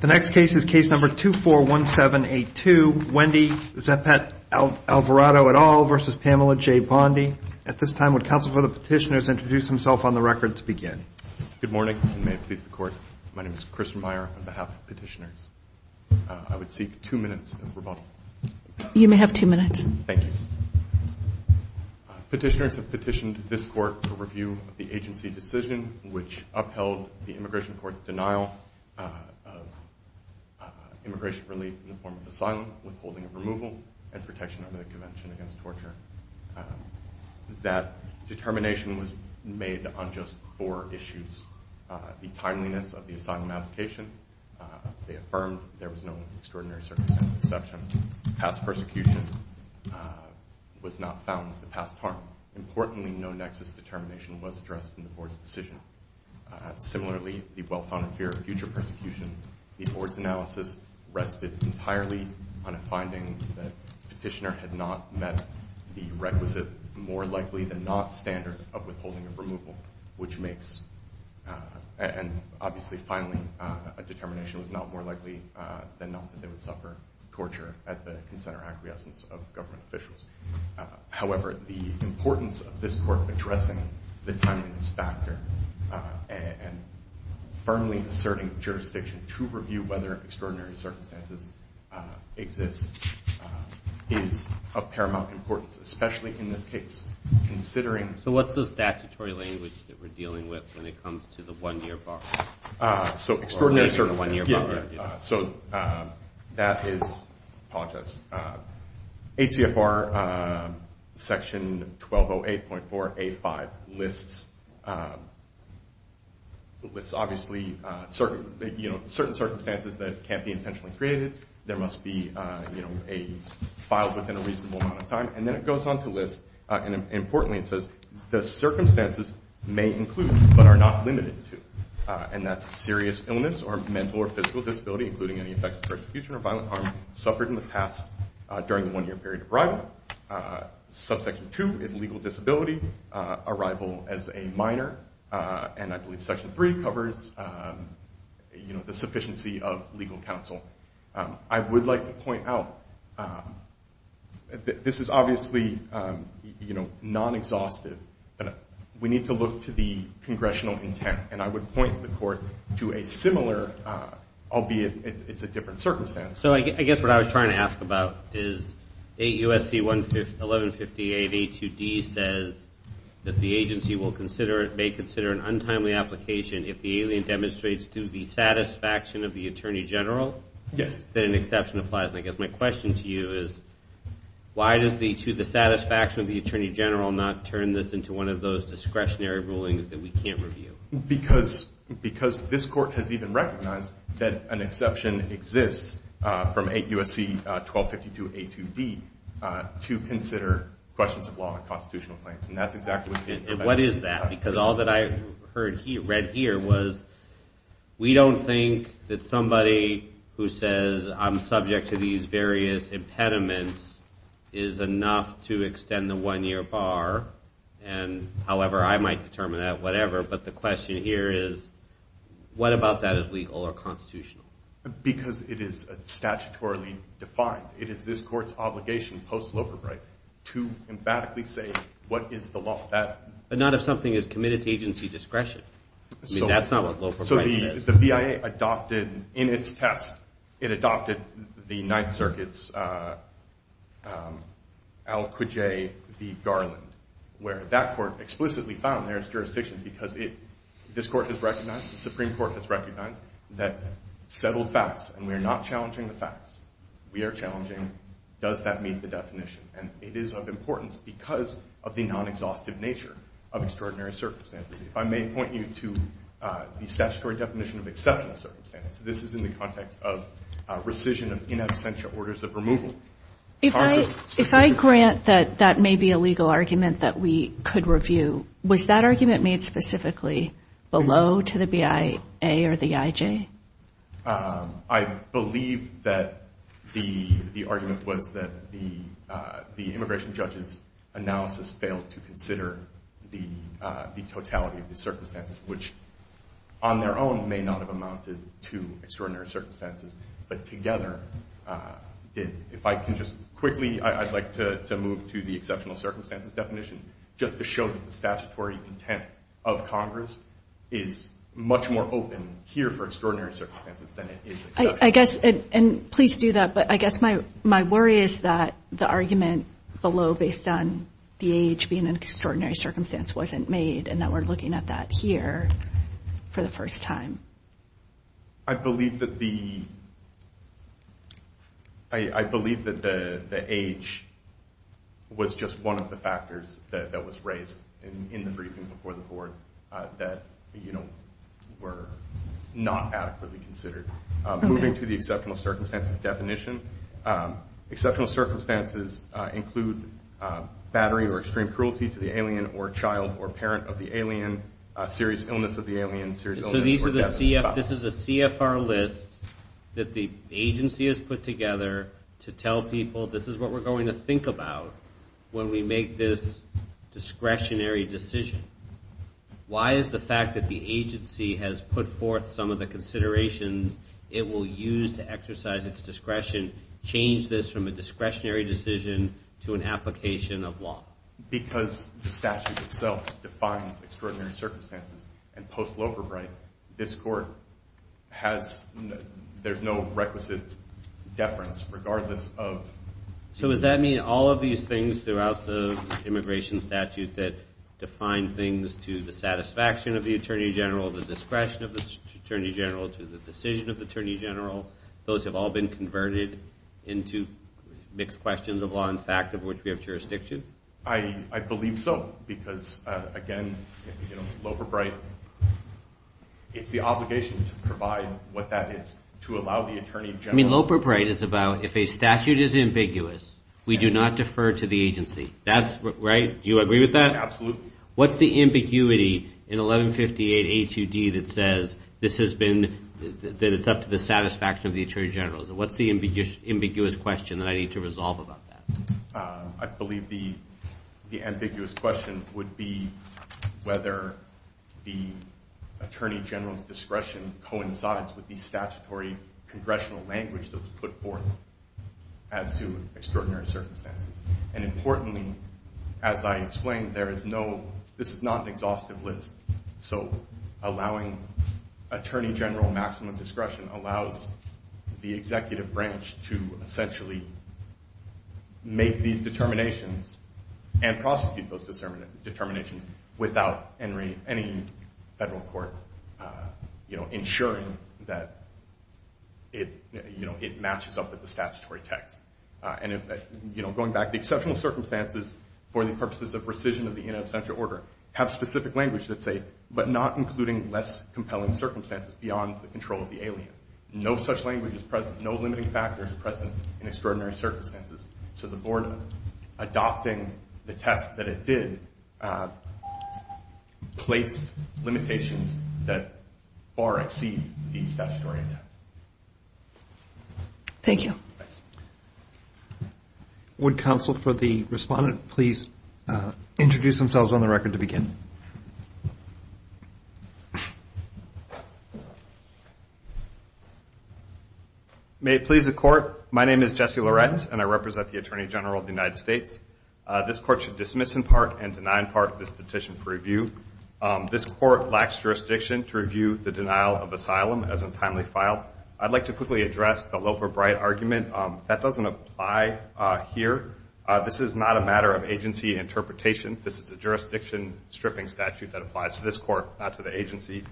The next case is case number 241782, Wendy Zepet-Alvarado et al. v. Pamela J. Bondi. At this time, would counsel for the petitioners introduce himself on the record to begin? Good morning, and may it please the Court. My name is Christopher Meyer on behalf of the petitioners. I would seek two minutes of rebuttal. You may have two minutes. Thank you. Petitioners have petitioned this Court for review of the agency decision which upheld the Immigration Court's denial of immigration relief in the form of asylum, withholding of removal, and protection under the Convention Against Torture. That determination was made on just four issues. The timeliness of the asylum application, they affirmed there was no extraordinary circumstance of deception. Past persecution was not found with the past harm. Importantly, no nexus determination was addressed in the Board's decision. Similarly, the well-founded fear of future persecution, the Board's analysis rested entirely on a finding that the petitioner had not met the requisite more likely than not standard of withholding of removal, which makes, and obviously finally, a determination was not more likely than not that they would suffer torture as a result. However, the importance of this Court addressing the timeliness factor and firmly asserting jurisdiction to review whether extraordinary circumstances exist is of paramount importance, especially in this case considering So what's the statutory language that we're dealing with when it comes to the one-year bar? Extraordinary circumstance. So that is ACFR Section 1208.4A.5 lists obviously certain circumstances that can't be intentionally created. There must be a file within a reasonable amount of time. And then it goes on to list, and importantly it says, the circumstances may include but are not limited to. And that's serious illness or mental or physical disability, including any effects of persecution or violent harm suffered in the past during the one-year period of arrival. Subsection 2 is legal disability, arrival as a minor, and I believe Section 3 covers the sufficiency of legal counsel. I would like to point out that this is obviously non-exhaustive. We need to look to the congressional intent, and I would point the Court to a similar, albeit it's a different circumstance. So I guess what I was trying to ask about is 8 U.S.C. 1158.82d says that the agency may consider an untimely application if the alien demonstrates to the satisfaction of the Attorney General. Yes. I guess my question to you is, why does the satisfaction of the Attorney General not turn this into one of those discretionary rulings that we can't review? Because this Court has even recognized that an exception exists from 8 U.S.C. 1252.82d to consider questions of law and constitutional claims. And that's exactly what we can't review. And what is that? Because all that I read here was, we don't think that somebody who says I'm subject to these various impediments is enough to extend the one-year bar. However, I might determine that, whatever. But the question here is, what about that is legal or constitutional? Because it is statutorily defined. It is this Court's obligation post-Loper Bright to emphatically say, what is the law? But not if something is committed to agency discretion. I mean, that's not what Loper Bright says. So the BIA adopted, in its test, it adopted the Ninth Circuit's Al Qujai v. Garland, where that Court explicitly found there is jurisdiction, because this Court has recognized, the Supreme Court has recognized, that settled facts, and we are not challenging the facts. We are challenging, does that meet the definition? And it is of importance because of the non-exhaustive nature of extraordinary circumstances. If I may point you to the statutory definition of exceptional circumstances. This is in the context of rescission of in absentia orders of removal. If I grant that that may be a legal argument that we could review, was that argument made specifically below to the BIA or the IJ? I believe that the argument was that the immigration judge's analysis failed to consider the totality of the circumstances, which on their own may not have amounted to extraordinary circumstances, but together did. If I can just quickly, I'd like to move to the exceptional circumstances definition, just to show that the statutory intent of Congress is much more open here for extraordinary circumstances than it is exceptional. I guess, and please do that, but I guess my worry is that the argument below, based on the age being an extraordinary circumstance, wasn't made, and that we're looking at that here for the first time. I believe that the age was just one of the factors that was raised in the briefing before the Board that were not adequately considered. Moving to the exceptional circumstances definition, exceptional circumstances include battery or extreme cruelty to the alien or child or parent of the alien, serious illness of the alien, serious illness or death of the child. This is a CFR list that the agency has put together to tell people, this is what we're going to think about when we make this discretionary decision. Why is the fact that the agency has put forth some of the considerations it will use to exercise its discretion, change this from a discretionary decision to an application of law? Because the statute itself defines extraordinary circumstances, and post-Loverbright, this Court has, there's no requisite deference, regardless of... So does that mean all of these things throughout the immigration statute that define things to the satisfaction of the Attorney General, the discretion of the Attorney General, to the decision of the Attorney General, those have all been converted into mixed questions of law and fact, of which we have jurisdiction? I believe so, because again, Loverbright, it's the obligation to provide what that is, to allow the Attorney General... I mean, Loverbright is about, if a statute is ambiguous, we do not defer to the agency. Right? Do you agree with that? Absolutely. What's the ambiguity in 1158A2D that says that it's up to the satisfaction of the Attorney General? What's the ambiguous question that I need to resolve about that? I believe the ambiguous question would be whether the Attorney General's discretion coincides with the statutory congressional language that's put forth as to extraordinary circumstances. And importantly, as I explained, there is no... This is not an exhaustive list. So allowing Attorney General maximum discretion allows the executive branch to essentially make these determinations and prosecute those determinations without any federal court ensuring that it matches up with the statutory text. Going back, the exceptional circumstances for the purposes of rescission of the in absentia order have specific language that say, but not including less compelling circumstances beyond the control of the alien. No such language is present. No limiting factors are present in extraordinary circumstances. So the board, adopting the test that it did, placed limitations that far exceed the statutory intent. Thank you. Would counsel for the respondent please introduce themselves on the record to begin? May it please the court, my name is Jesse Loret and I represent the Attorney General of the United States. This court should dismiss in part and deny in part this petition for review. This court lacks jurisdiction to review the denial of asylum as a timely file. I'd like to quickly address the Loefer-Bright argument. That doesn't apply here. This is not a matter of agency interpretation. This is a jurisdiction stripping statute that applies to this court, not to the agency.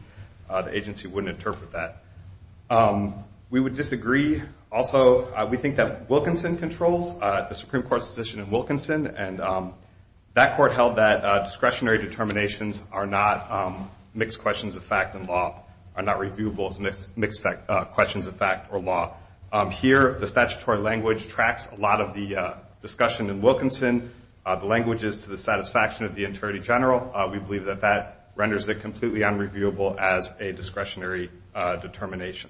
The agency wouldn't interpret that. We would disagree. Also, we think that Wilkinson controls the Supreme Court's decision in Wilkinson and that court held that discretionary determinations are not mixed questions of fact and law, are not reviewable as mixed questions of fact or law. Here, the statutory language tracks a lot of the discussion in Wilkinson. The language is to the satisfaction of the Attorney General. We believe that that renders it completely unreviewable as a discretionary determination.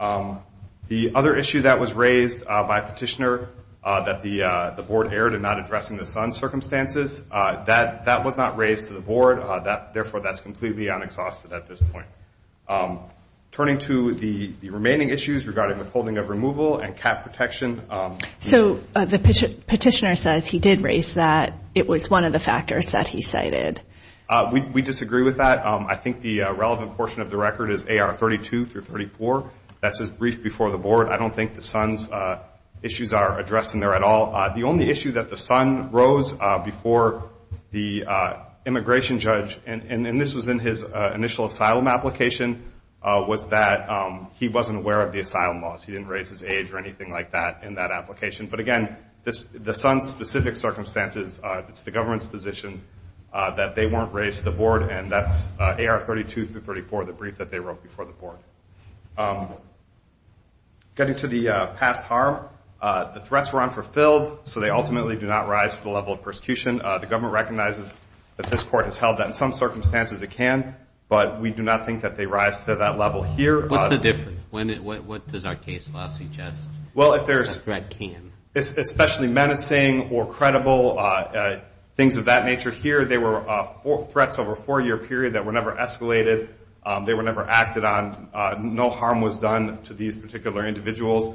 The other issue that was raised by Petitioner, that the board erred in not addressing the son's circumstances, that was not raised to the board. Therefore, that's completely unexhausted at this point. Turning to the remaining issues regarding withholding of removal and cap protection. Petitioner says he did raise that. It was one of the factors that he cited. We disagree with that. I think the relevant portion of the record is AR32-34. That's his brief before the board. I don't think the son's issues are addressed in there at all. The only issue that the son rose before the immigration judge, and this was in his initial asylum application, was that he wasn't aware of the asylum laws. He didn't raise his age or anything like that in that application. But again, the son's specific circumstances, it's the government's position that they weren't raised to the board, and that's AR32-34, the brief that they wrote before the board. Getting to the past harm, the threats were unfulfilled, so they ultimately do not rise to the level of persecution. The government recognizes that this Court has held that in some circumstances it can, but we do not think that they rise to that level here. What's the difference? What does our case law suggest that a threat can? Especially menacing or credible, things of that nature. Here they were threats over a four-year period that were never escalated. They were never acted on. No harm was done to these particular individuals.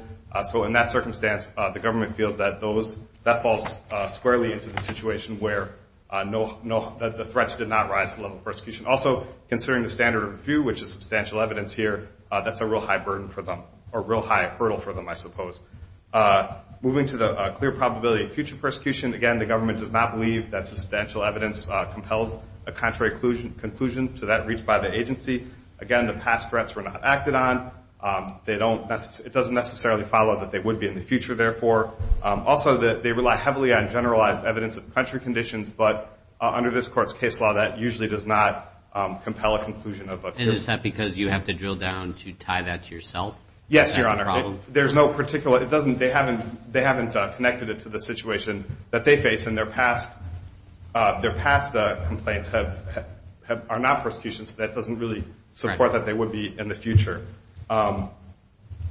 So in that circumstance, the government feels that that falls squarely into the situation where the threats did not rise to the level of persecution. Also, considering the standard of review, which is substantial evidence here, that's a real high hurdle for them, I suppose. Moving to the clear probability of future persecution, again, the government does not believe that substantial evidence compels a contrary conclusion to that reached by the agency. Again, the past threats were not acted on. It doesn't necessarily follow that they would be in the future, therefore. Also, they rely heavily on generalized evidence of country conditions, but under this Court's case law, that usually does not compel a conclusion of a future. And is that because you have to drill down to tie that to yourself? Yes, Your Honor. They haven't connected it to the situation that they face, and their past complaints are not persecution, so that doesn't really support that they would be in the future.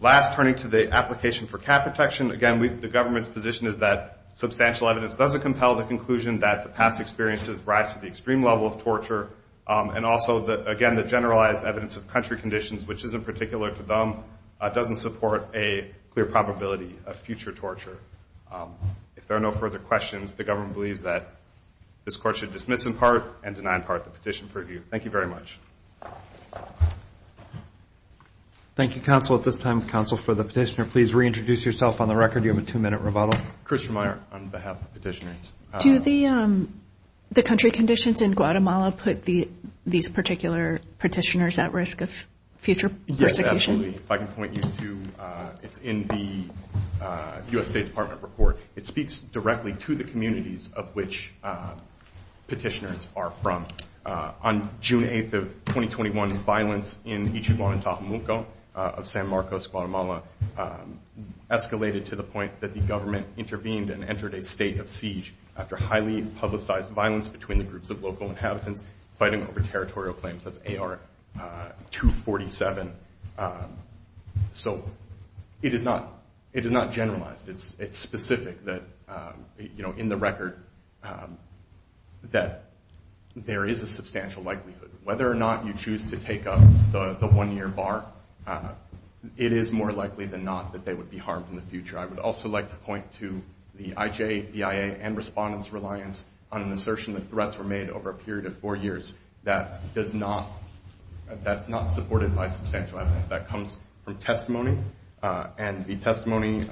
Last, turning to the application for cap protection, again, the government's position is that substantial evidence doesn't compel the conclusion that the past experiences rise to the extreme level of torture. And also, again, the generalized evidence of country conditions, which is in particular to them, doesn't support a clear probability of future torture. If there are no further questions, the government believes that this Court should dismiss in part and deny in part the petition for review. Thank you very much. Thank you, counsel. At this time, counsel, for the petitioner, please reintroduce yourself on the record. You have a two-minute rebuttal. Do the country conditions in Guatemala put these particular petitioners at risk of future persecution? Yes, absolutely. If I can point you to, it's in the U.S. State Department report. It speaks directly to the communities of which petitioners are from. On June 8th of 2021, violence in Ichuguan and Tahuamuco of San Marcos, Guatemala, escalated to the point that the government intervened and entered a state of siege after highly publicized violence between the groups of local inhabitants fighting over territorial claims of AR-247. So it is not generalized. It's specific that, in the record, that there is a substantial likelihood. Whether or not you choose to take up the one-year bar, it is more likely than not that they would be harmed in the future. I would also like to point to the IJ, BIA, and respondents' reliance on an assertion that threats were made over a period of four years that's not supported by substantial evidence. That comes from testimony, and the testimony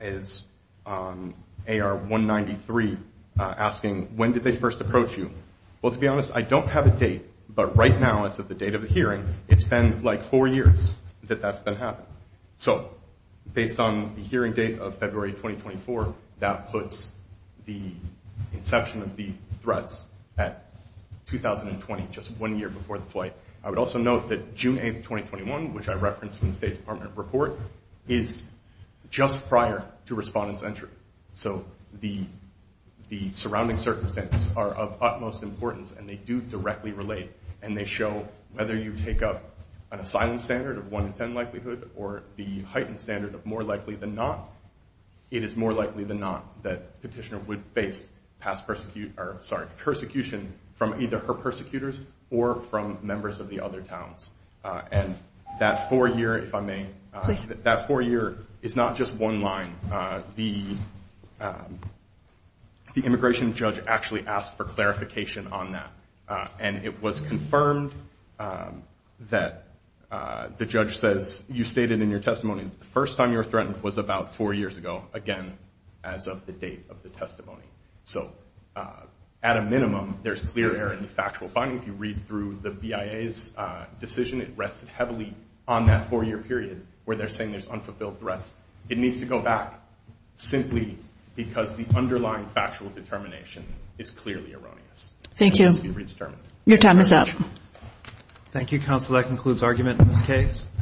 is on AR-193, asking, when did they first approach you? Well, to be honest, I don't have a date, but right now, as of the date of the hearing, it's been like four years that that's been happening. So based on the hearing date of February 2024, that puts the inception of the threats at 2020, just one year before the flight. I would also note that June 8, 2021, which I referenced in the State Department report, is just prior to respondents' entry. So the surrounding circumstances are of utmost importance, and they do directly relate. And they show, whether you take up an asylum standard of 1 in 10 likelihood or the heightened standard of more likely than not, it is more likely than not that Petitioner would face persecution from either her persecutors, or from members of the other towns. And that four year, if I may, that four year is not just one line. The immigration judge actually asked for clarification on that. And it was confirmed that the judge says, you stated in your testimony, the first time you were threatened was about four years ago, again, as of the date of the testimony. So at a minimum, there's clear error in the factual finding. If you read through the BIA's decision, it rested heavily on that four year period where they're saying there's unfulfilled threats. It needs to go back simply because the underlying factual determination is clearly erroneous. Thank you. Your time is up.